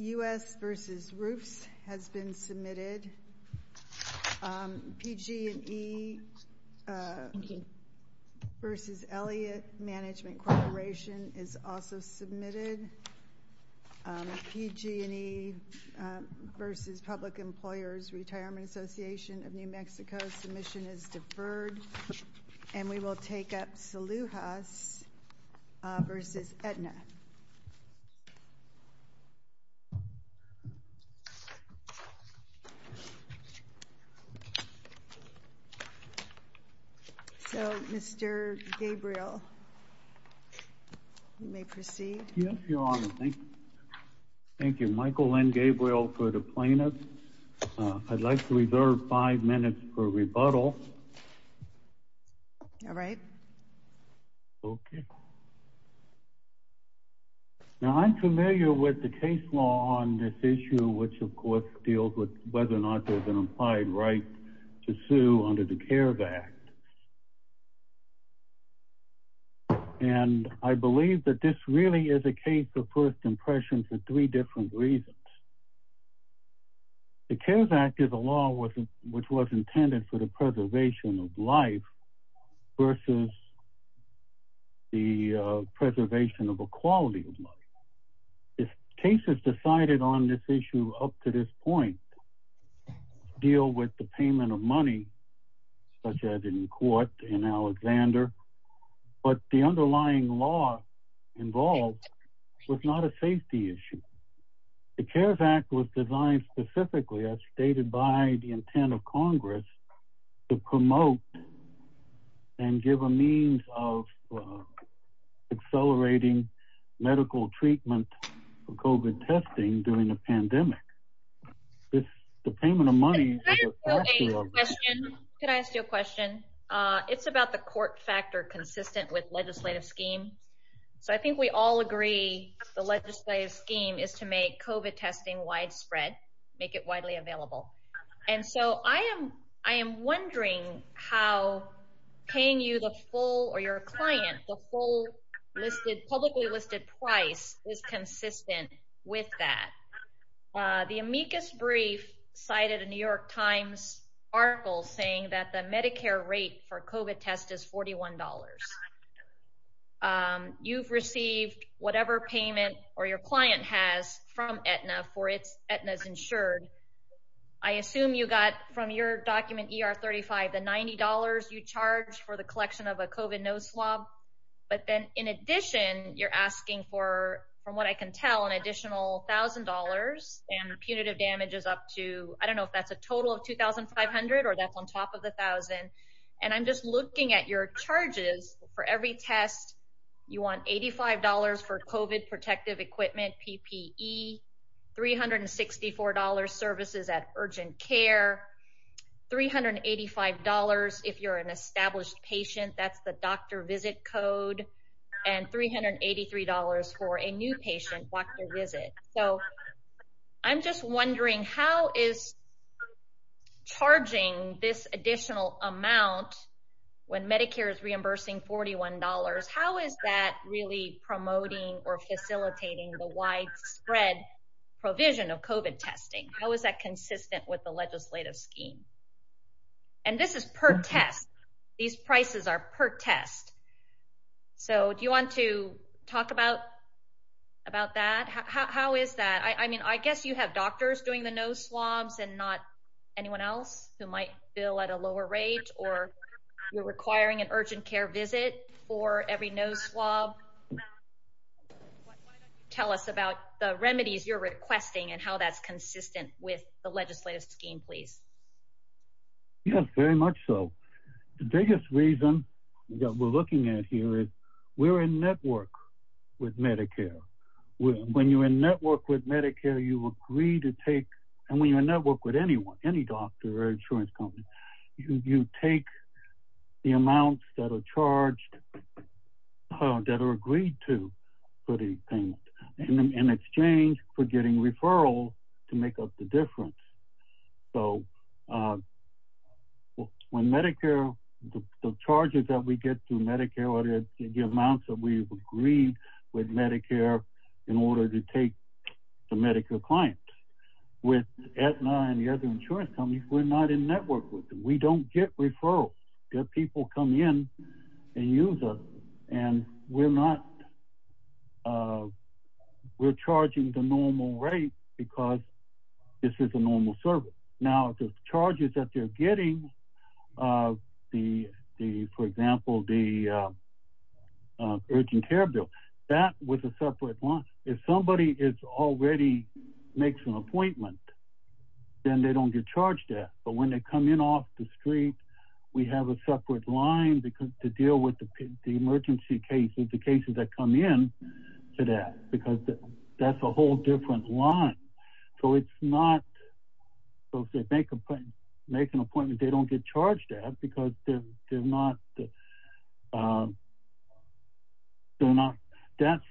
U.S. v. Roofs has been submitted. PG&E v. Elliott Management Corporation is also submitted. PG&E v. Public Employers Retirement Association of New Mexico's submission is deferred. And we will take up Saloojas v. Aetna. So, Mr. Gabriel, you may proceed. Yes, Your Honor. Thank you. Michael N. Gabriel for the plaintiff. I'd like to reserve five minutes for rebuttal. All right. Okay. Now, I'm familiar with the case law on this issue, which, of course, deals with whether or not there's an implied right to sue under the CARES Act. And I believe that this really is a case of first impression for three different reasons. The CARES Act is a law which was intended for the preservation of life versus the preservation of a quality of life. If cases decided on this issue up to this point deal with the payment of money, such as in court in Alexander, but the underlying law involved was not a safety issue. The CARES Act was designed specifically, as stated by the intent of Congress, to promote and give a means of accelerating medical treatment for COVID testing during a pandemic. This, the payment of money... Can I ask you a question? It's about the court factor consistent with legislative scheme. So I think we all agree the legislative scheme is to make COVID testing widespread, make it widely available. And so I am wondering how paying you the full or your client the full publicly listed price is consistent with that. The amicus brief cited a New York Times article saying that the Medicare rate for COVID test is $41. You've received whatever payment or your client has from Aetna for it's Aetna's insured. I assume you got from your document ER 35, the $90 you charge for the collection of a COVID no swab. But then in addition, you're asking for, from what I can tell, an additional $1,000 and punitive damages up to, I don't know if that's a total of 2,500 or that's on top of the 1,000. And I'm just looking at your charges for every test. You want $85 for COVID protective equipment, PPE, $364 services at urgent care, $385 if you're an established patient, that's the doctor visit code, and $383 for a new patient doctor visit. So I'm just wondering how is charging this additional amount when Medicare is reimbursing $41, how is that really promoting or facilitating the widespread provision of COVID testing? How is that consistent with the legislative scheme? And this is per test. These prices are per test. So do you want to talk about that? How is that? I mean, I guess you have doctors doing the no swabs and not anyone else who might feel at a lower rate or you're requiring an urgent care visit for every no swab. Tell us about the remedies you're requesting and how that's consistent with the legislative scheme, please. Yes, very much so. The biggest reason that we're looking at here is we're in network with Medicare. When you're in network with Medicare, you agree to take, and when you're in network with anyone, any doctor or insurance company, you take the amounts that are charged, that are agreed to for the payment in exchange for getting referrals to make up the difference. So when Medicare, the charges that we get through Medicare are the amounts that we've agreed with Medicare in order to take the Medicare client. With Aetna and the other insurance companies, we're not in network with them. We don't get referrals. Their people come in and use us and we're charging the normal rate because this is a normal service. Now, the charges that they're getting, for example, the urgent care bill, that was a separate one. If somebody already makes an appointment, then they don't get charged that. But when they come in off the street, we have a separate line to deal with the emergency cases, the cases that come in to that because that's a whole different line. So it's not, so if they make an appointment, they don't get charged that because they're not, that's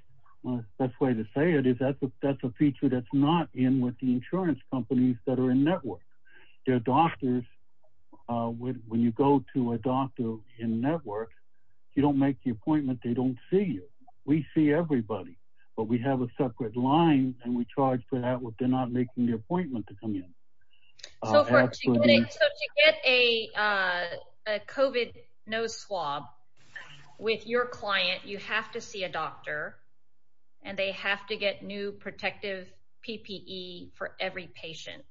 the best way to say it is that's a feature that's not in with the insurance companies that are in network. Their doctors, when you go to a doctor in network, you don't make the appointment, they don't see you. We see everybody, but we have a separate line and we charge for that if they're not making the appointment to come in. So to get a COVID nose swab with your client, you have to see a doctor and they have to get new protective PPE for every patient.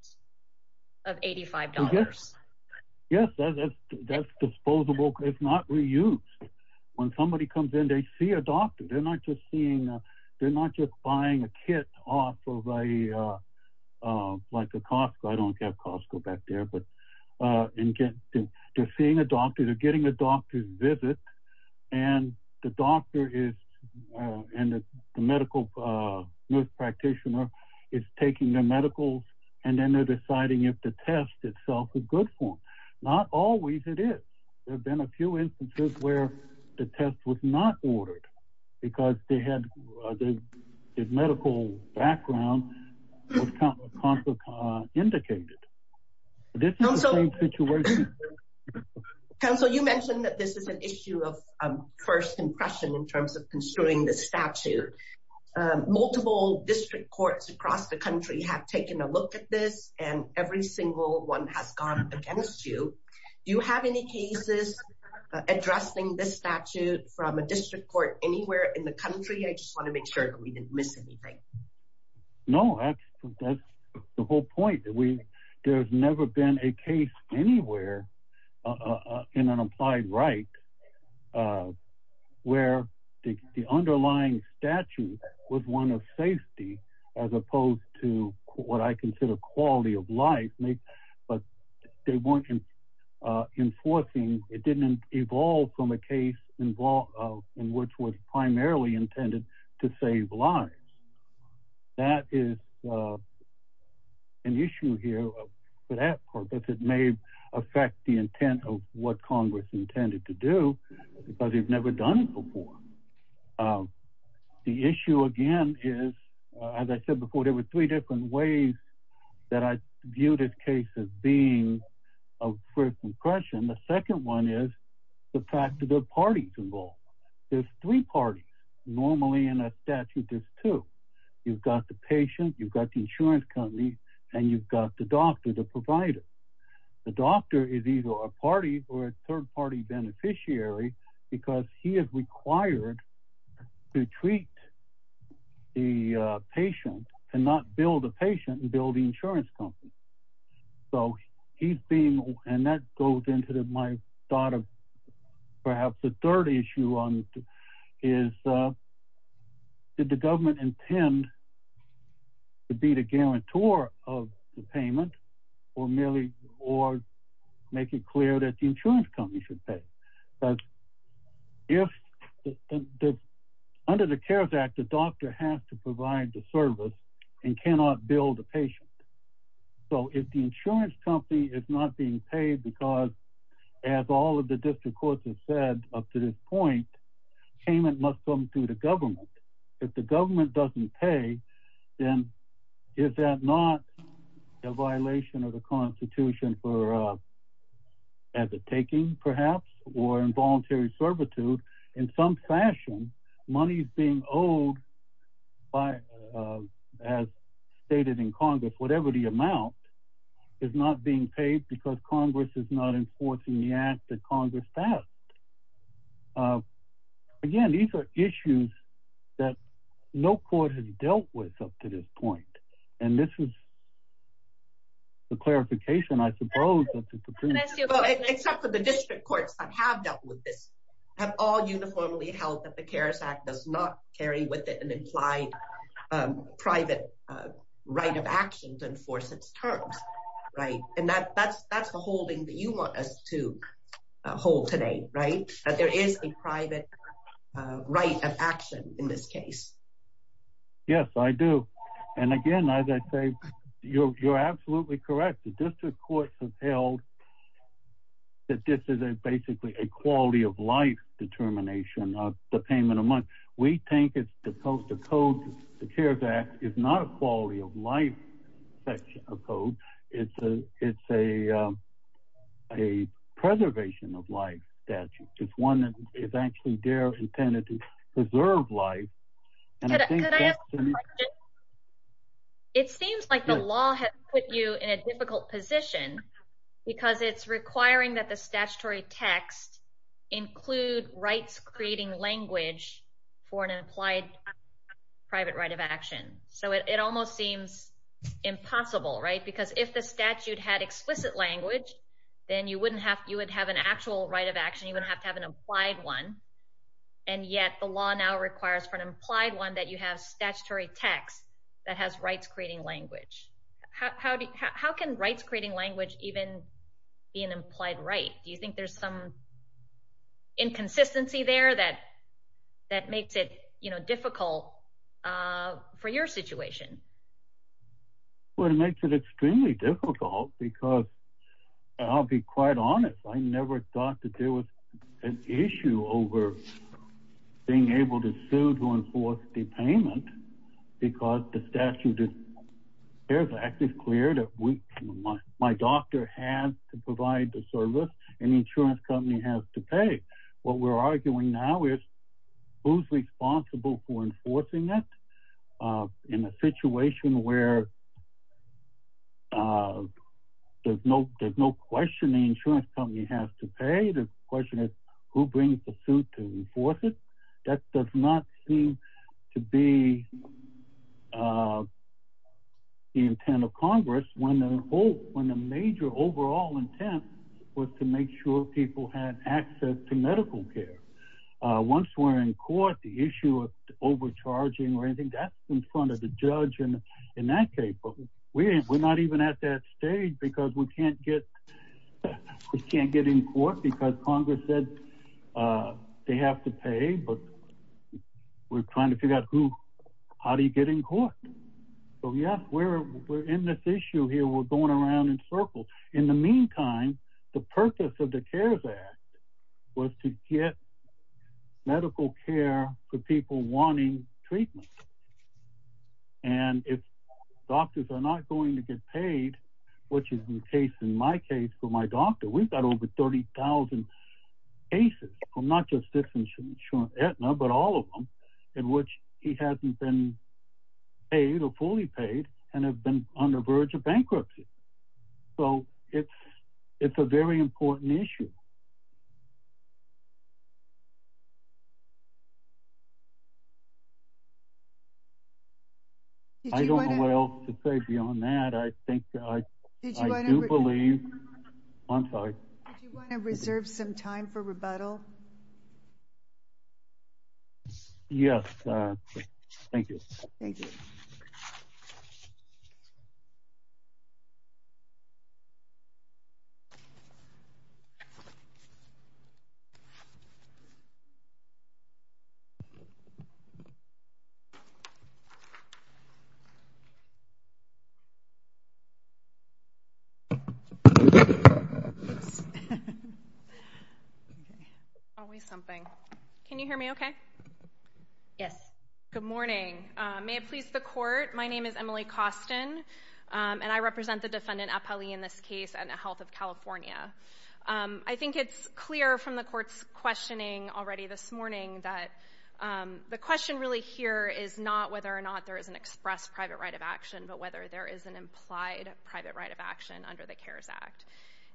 Of $85. Yes, that's disposable, it's not reused when somebody comes in, they see a doctor, they're not just seeing, they're not just buying a kit off of a, like a Costco. I don't have Costco back there, but they're seeing a doctor, they're getting a doctor's visit and the doctor is, and the medical nurse practitioner is taking their medical. And then they're deciding if the test itself is good for them, not always. It is, there've been a few instances where the test was not ordered because they had the medical background indicated. This is the same situation. Council, you mentioned that this is an issue of first impression in terms of construing the statute. Multiple district courts across the country have taken a look at this and every single one has gone against you. Do you have any cases addressing this statute from a district court anywhere in the country? I just want to make sure that we didn't miss anything. No, that's the whole point. There's never been a case anywhere in an applied right where the underlying statute was one of safety as opposed to what I consider quality of life. But they weren't enforcing, it didn't evolve from a case in which was primarily intended to save lives. That is an issue here for that purpose. It may affect the intent of what Congress intended to do, but they've never done before. The issue again is, as I said before, there were three different ways that I viewed this case as being of first impression. The second one is the fact that there are parties involved. There's three parties. Normally in a statute, there's two. You've got the patient, you've got the insurance company, and you've got the doctor, the provider. The doctor is either a party or a third party beneficiary because he is required to treat the patient and not bill the patient and bill the insurance company. So he's being, and that goes into my thought of perhaps the third issue is, did the government intend to be the guarantor of the payment or merely or make it clear that the insurance company should pay? Because under the CARES Act, the doctor has to provide the service and cannot bill the patient. So if the insurance company is not being paid because, as all of the district courts have said up to this point, payment must come through the government. If the government doesn't pay, then is that not a violation of the Constitution for, as a taking perhaps, or involuntary servitude in some fashion, money is being owed by, as stated in Congress, whatever the amount, is not being paid because Congress is not enforcing the act that Congress passed. Again, these are issues that no court has dealt with up to this point. And this is the clarification, I suppose, that the Supreme Court has given. Well, except for the district courts that have dealt with this, have all uniformly held that the CARES Act does not carry with it an implied private right of action to enforce its terms, right? And that's the holding that you want us to hold today, right? That there is a private right of action in this case. Yes, I do. And again, as I say, you're absolutely correct. The district courts have held that this is basically a quality of life determination of the payment of money. We think it's supposed to code, the CARES Act is not a quality of life section of code. It's a preservation of life statute. It's one that is actually there intended to preserve life. Could I ask a question? It seems like the law has put you in a difficult position because it's requiring that the statutory text include rights creating language for an implied private right of action. So it almost seems impossible, right? Because if the statute had explicit language, then you would have an actual right of action, you wouldn't have to have an implied one. And yet the law now requires for an implied one that you have statutory text that has rights creating language. How can rights creating language even be an implied right? Do you think there's some inconsistency there that makes it difficult for your situation? Well, it makes it extremely difficult because I'll be quite honest. I never thought that there was an issue over being able to sue to enforce the payment because the statute of CARES Act is clear that my doctor has to provide the service and the insurance company has to pay. What we're arguing now is who's responsible for enforcing it in a situation where there's no question the insurance company has to pay. The question is who brings the suit to enforce it. That does not seem to be the intent of Congress when the major overall intent was to make sure people had access to medical care. Once we're in court, the issue of overcharging or anything, that's in front of the judge. We're not even at that stage because we can't get in court because Congress said they have to pay, but we're trying to figure out how do you get in court? Yes, we're in this issue here. We're going around in circles. In the meantime, the purpose of the CARES Act was to get medical care for people wanting treatment. If doctors are not going to get paid, which is the case in my case for my doctor, we've got over 30,000 cases from not just this insurance, Aetna, but all of them in which he hasn't been paid or fully paid and have been on the verge of bankruptcy. It's a very important issue. I don't know what else to say beyond that. I think that I do believe... I'm sorry. Do you want to reserve some time for rebuttal? Yes. Thank you. Thank you. Always something. Can you hear me okay? Yes. Good morning. May it please the court, my name is Emily Costin, and I represent the defendant, Apali, in this case, at Health of California. I think it's clear from the court's questioning already this morning that the question really here is not whether or not there is an express private right of action, but whether there is an implied private right of action under the CARES Act.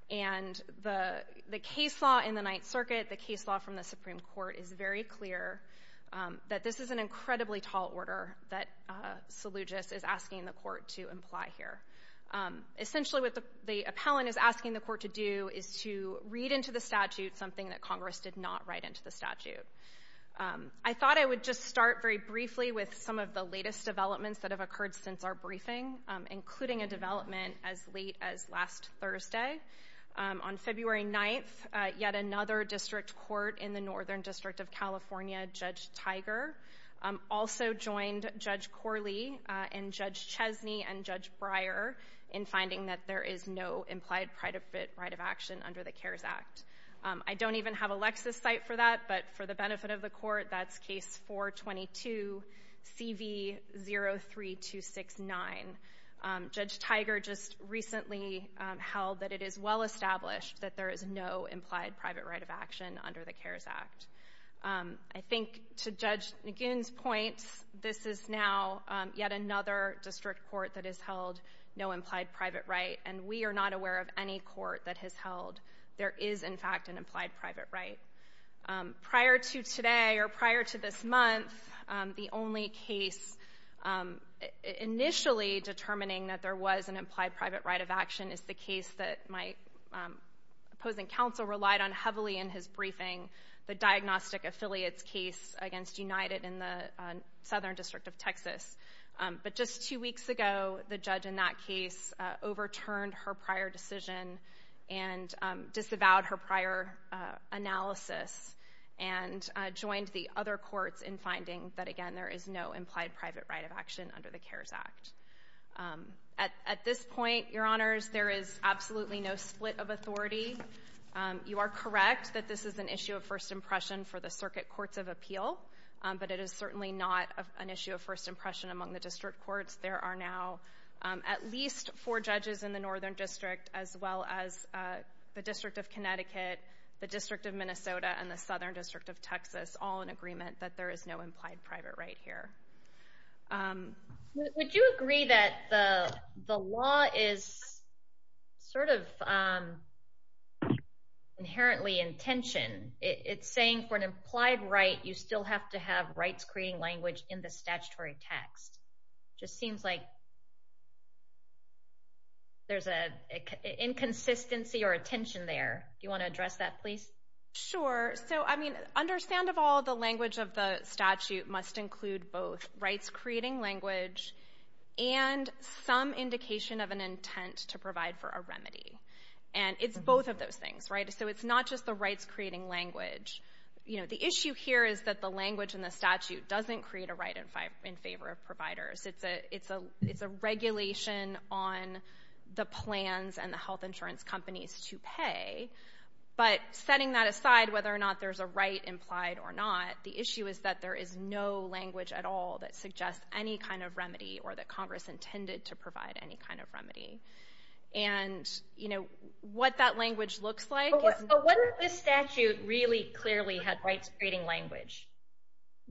And the case law in the Ninth Circuit, the case law from the Supreme Court, is very clear that this is an incredibly tall order that Seleucus is asking the court to imply here. Essentially what the appellant is asking the court to do is to read into the statute something that Congress did not write into the statute. I thought I would just start very briefly with some of the latest developments that have occurred since our briefing, including a development as late as last Thursday. On February 9th, yet another district court in the Northern District of California, Judge Tiger, also joined Judge Corley and Judge Chesney and Judge Breyer in finding that there is no implied private right of action under the CARES Act. I don't even have a Lexis site for that, but for the benefit of the court, that's case 422, CV 03269. Judge Tiger just recently held that it is well established that there is no implied private right of action under the CARES Act. I think to Judge McGinn's point, this is now yet another district court that has held no implied private right, and we are not aware of any court that has held there is, in fact, an implied private right. Prior to today, or prior to this month, the only case initially determining that there was an implied private right of action is the case that my opposing counsel relied on heavily in his briefing, the diagnostic affiliates case against United in the Southern District of Texas. But just two weeks ago, the judge in that case overturned her prior decision and disavowed her prior analysis and joined the other courts in finding that, again, there is no implied private right of action under the CARES Act. At this point, Your Honors, there is absolutely no split of authority. You are correct that this is an issue of first impression for the circuit courts of appeal, but it is certainly not an issue of first impression among the district courts. There are now at least four judges in the Northern District, as well as the District of Connecticut, the District of Minnesota, and the Southern District of Texas, all in agreement that there is no implied private right here. Would you agree that the law is sort of inherently in tension? It's saying for an implied right, you still have to have rights-creating language in the statutory text. It just seems like there's an inconsistency or a tension there. Sure. So, I mean, understand of all the language of the statute must include both rights-creating language and some indication of an intent to provide for a remedy. And it's both of those things, right? So it's not just the rights-creating language. You know, the issue here is that the language in the statute doesn't create a right in favor of providers. It's a regulation on the plans and the health insurance companies to pay. But setting that aside, whether or not there's a right implied or not, the issue is that there is no language at all that suggests any kind of remedy or that Congress intended to provide any kind of remedy. And, you know, what that language looks like is— But what if the statute really clearly had rights-creating language?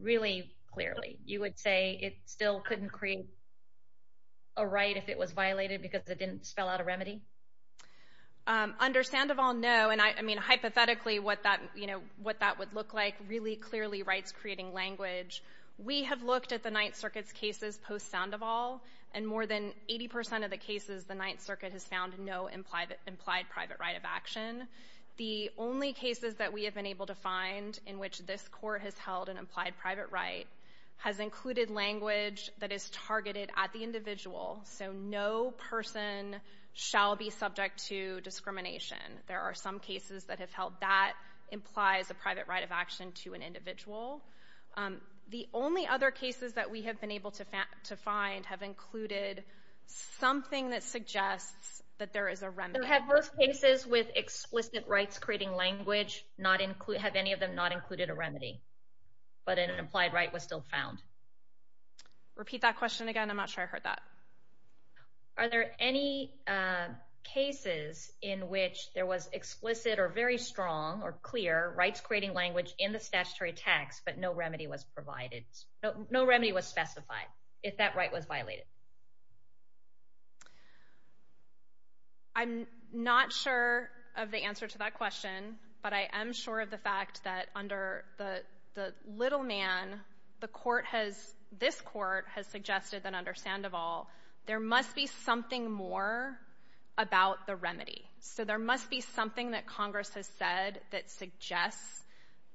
Really clearly. You would say it still couldn't create a right if it was violated because it didn't spell out a remedy? Under Sandoval, no. And, I mean, hypothetically, what that would look like, really clearly rights-creating language. We have looked at the Ninth Circuit's cases post-Sandoval, and more than 80% of the cases the Ninth Circuit has found no implied private right of action. The only cases that we have been able to find in which this Court has held an implied private right has included language that is targeted at the individual. So no person shall be subject to discrimination. There are some cases that have held that implies a private right of action to an individual. The only other cases that we have been able to find have included something that suggests that there is a remedy. Have those cases with explicit rights-creating language not included—have any of them not included a remedy, but an implied right was still found? Repeat that question again. I'm not sure I heard that. Are there any cases in which there was explicit or very strong or clear rights-creating language in the statutory text, but no remedy was provided—no remedy was specified if that right was violated? I'm not sure of the answer to that question, but I am sure of the fact that under the little man, the Court has—this Court has suggested that under Sandoval, there must be something more about the remedy. So there must be something that Congress has said that suggests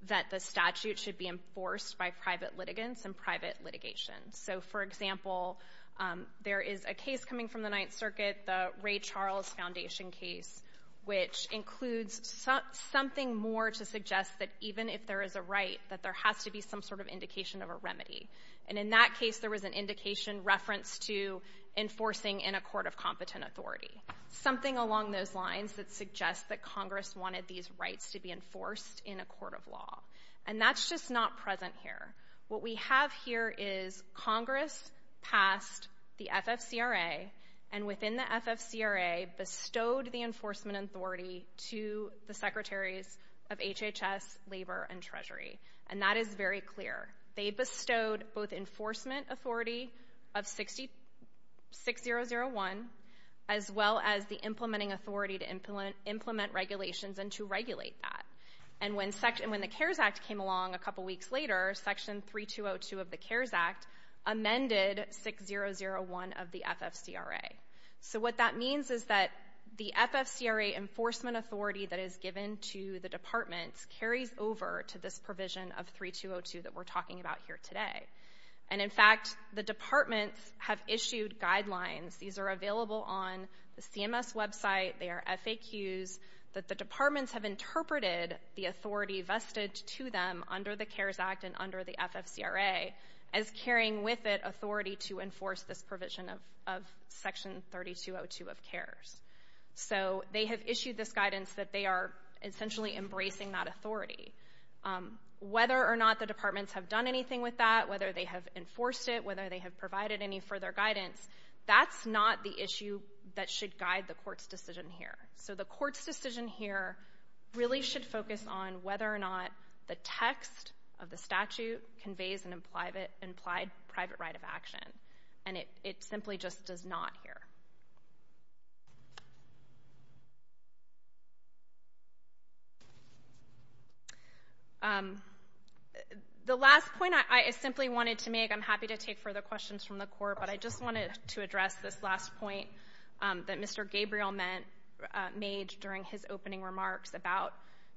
that the statute should be enforced by private litigants and private litigation. So, for example, there is a case coming from the Ninth Circuit, the Ray Charles Foundation case, which includes something more to suggest that even if there is a right, that there has to be some sort of indication of a remedy. And in that case, there was an indication reference to enforcing in a court of competent authority, something along those lines that suggests that Congress wanted these rights to be enforced in a court of law. And that's just not present here. What we have here is Congress passed the FFCRA, and within the FFCRA, bestowed the enforcement authority to the secretaries of HHS, Labor, and Treasury. And that is very clear. They bestowed both enforcement authority of 6001, as well as the implementing authority to implement regulations and to regulate that. And when the CARES Act came along a couple weeks later, Section 3202 of the CARES Act amended 6001 of the FFCRA. So what that means is that the FFCRA enforcement authority that is given to the departments carries over to this provision of 3202 that we're talking about here today. And, in fact, the departments have issued guidelines. These are available on the CMS website. They are FAQs that the departments have interpreted the authority vested to them under the CARES Act and under the FFCRA, as carrying with it authority to enforce this provision of Section 3202 of CARES. So they have issued this guidance that they are essentially embracing that authority. Whether or not the departments have done anything with that, whether they have enforced it, whether they have provided any further guidance, that's not the issue that should guide the Court's decision here. So the Court's decision here really should focus on whether or not the text of the statute conveys an implied private right of action. And it simply just does not here. The last point I simply wanted to make, I'm happy to take further questions from the Court, but I just wanted to address this last point that Mr. Gabriel made during his opening remarks about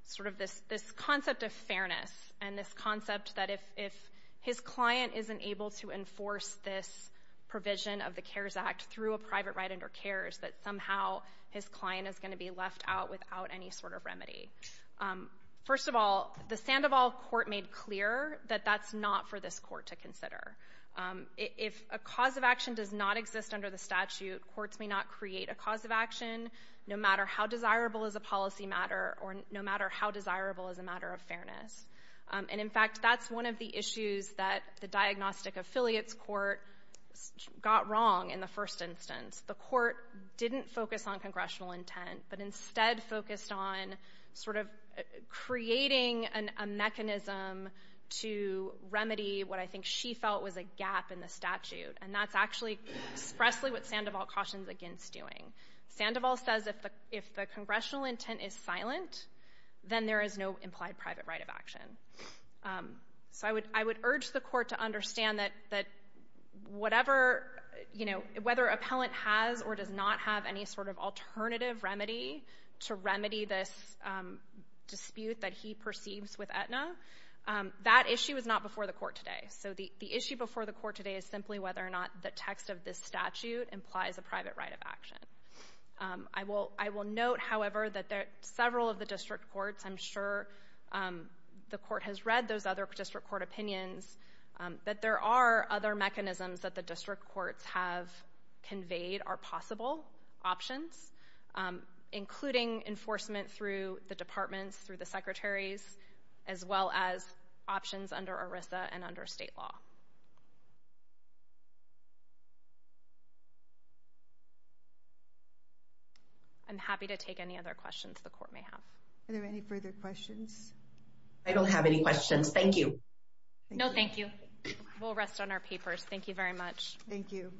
sort of this concept of fairness and this concept that if his client isn't able to enforce this provision of the CARES Act through a private right under CARES, that somehow his client is going to be left out without any sort of remedy. First of all, the Sandoval Court made clear that that's not for this Court to consider. If a cause of action does not exist under the statute, courts may not create a cause of action, no matter how desirable is a policy matter or no matter how desirable is a matter of fairness. And, in fact, that's one of the issues that the Diagnostic Affiliates Court got wrong in the first instance. The Court didn't focus on congressional intent, but instead focused on sort of creating a mechanism to remedy what I think she felt was a gap in the statute. And that's actually expressly what Sandoval cautions against doing. Sandoval says if the congressional intent is silent, then there is no implied private right of action. So I would urge the Court to understand that whether an appellant has or does not have any sort of alternative remedy to remedy this dispute that he perceives with Aetna, that issue is not before the Court today. So the issue before the Court today is simply whether or not the text of this statute implies a private right of action. I will note, however, that several of the district courts, I'm sure the Court has read those other district court opinions, that there are other mechanisms that the district courts have conveyed are possible options, including enforcement through the departments, through the secretaries, as well as options under ERISA and under state law. I'm happy to take any other questions the Court may have. Are there any further questions? I don't have any questions. Thank you. No, thank you. We'll rest on our papers. Thank you very much. Thank you.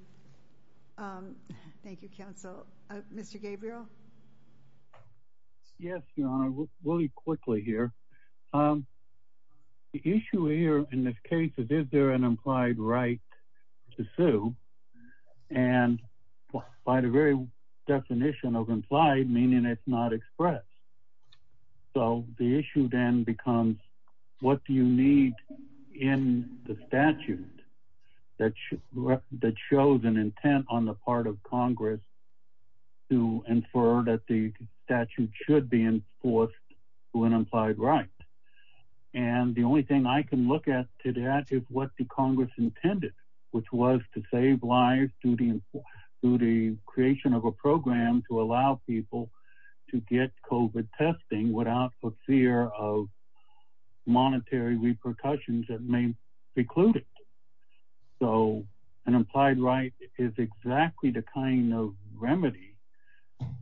Thank you, counsel. Mr. Gabriel? Yes, Your Honor. Really quickly here. The issue here in this case is, is there an implied right to sue? And by the very definition of implied, meaning it's not expressed. So the issue then becomes, what do you need in the statute that shows an intent on the part of Congress to infer that the statute should be enforced through an implied right? And the only thing I can look at to that is what the Congress intended, which was to save lives through the creation of a program to allow people to get COVID testing without the fear of monetary repercussions that may preclude it. So an implied right is exactly the kind of remedy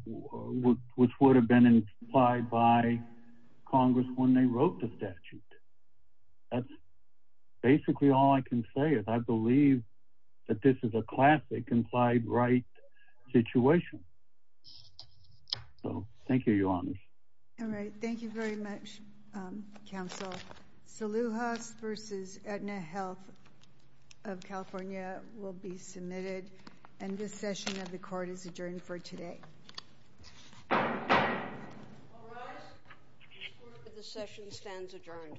which would have been implied by Congress when they wrote the statute. That's basically all I can say is I believe that this is a classic implied right situation. So thank you, Your Honor. All right. Thank you very much, counsel. Saluhas v. Aetna Health of California will be submitted. And this session of the court is adjourned for today. All rise. The court for this session stands adjourned.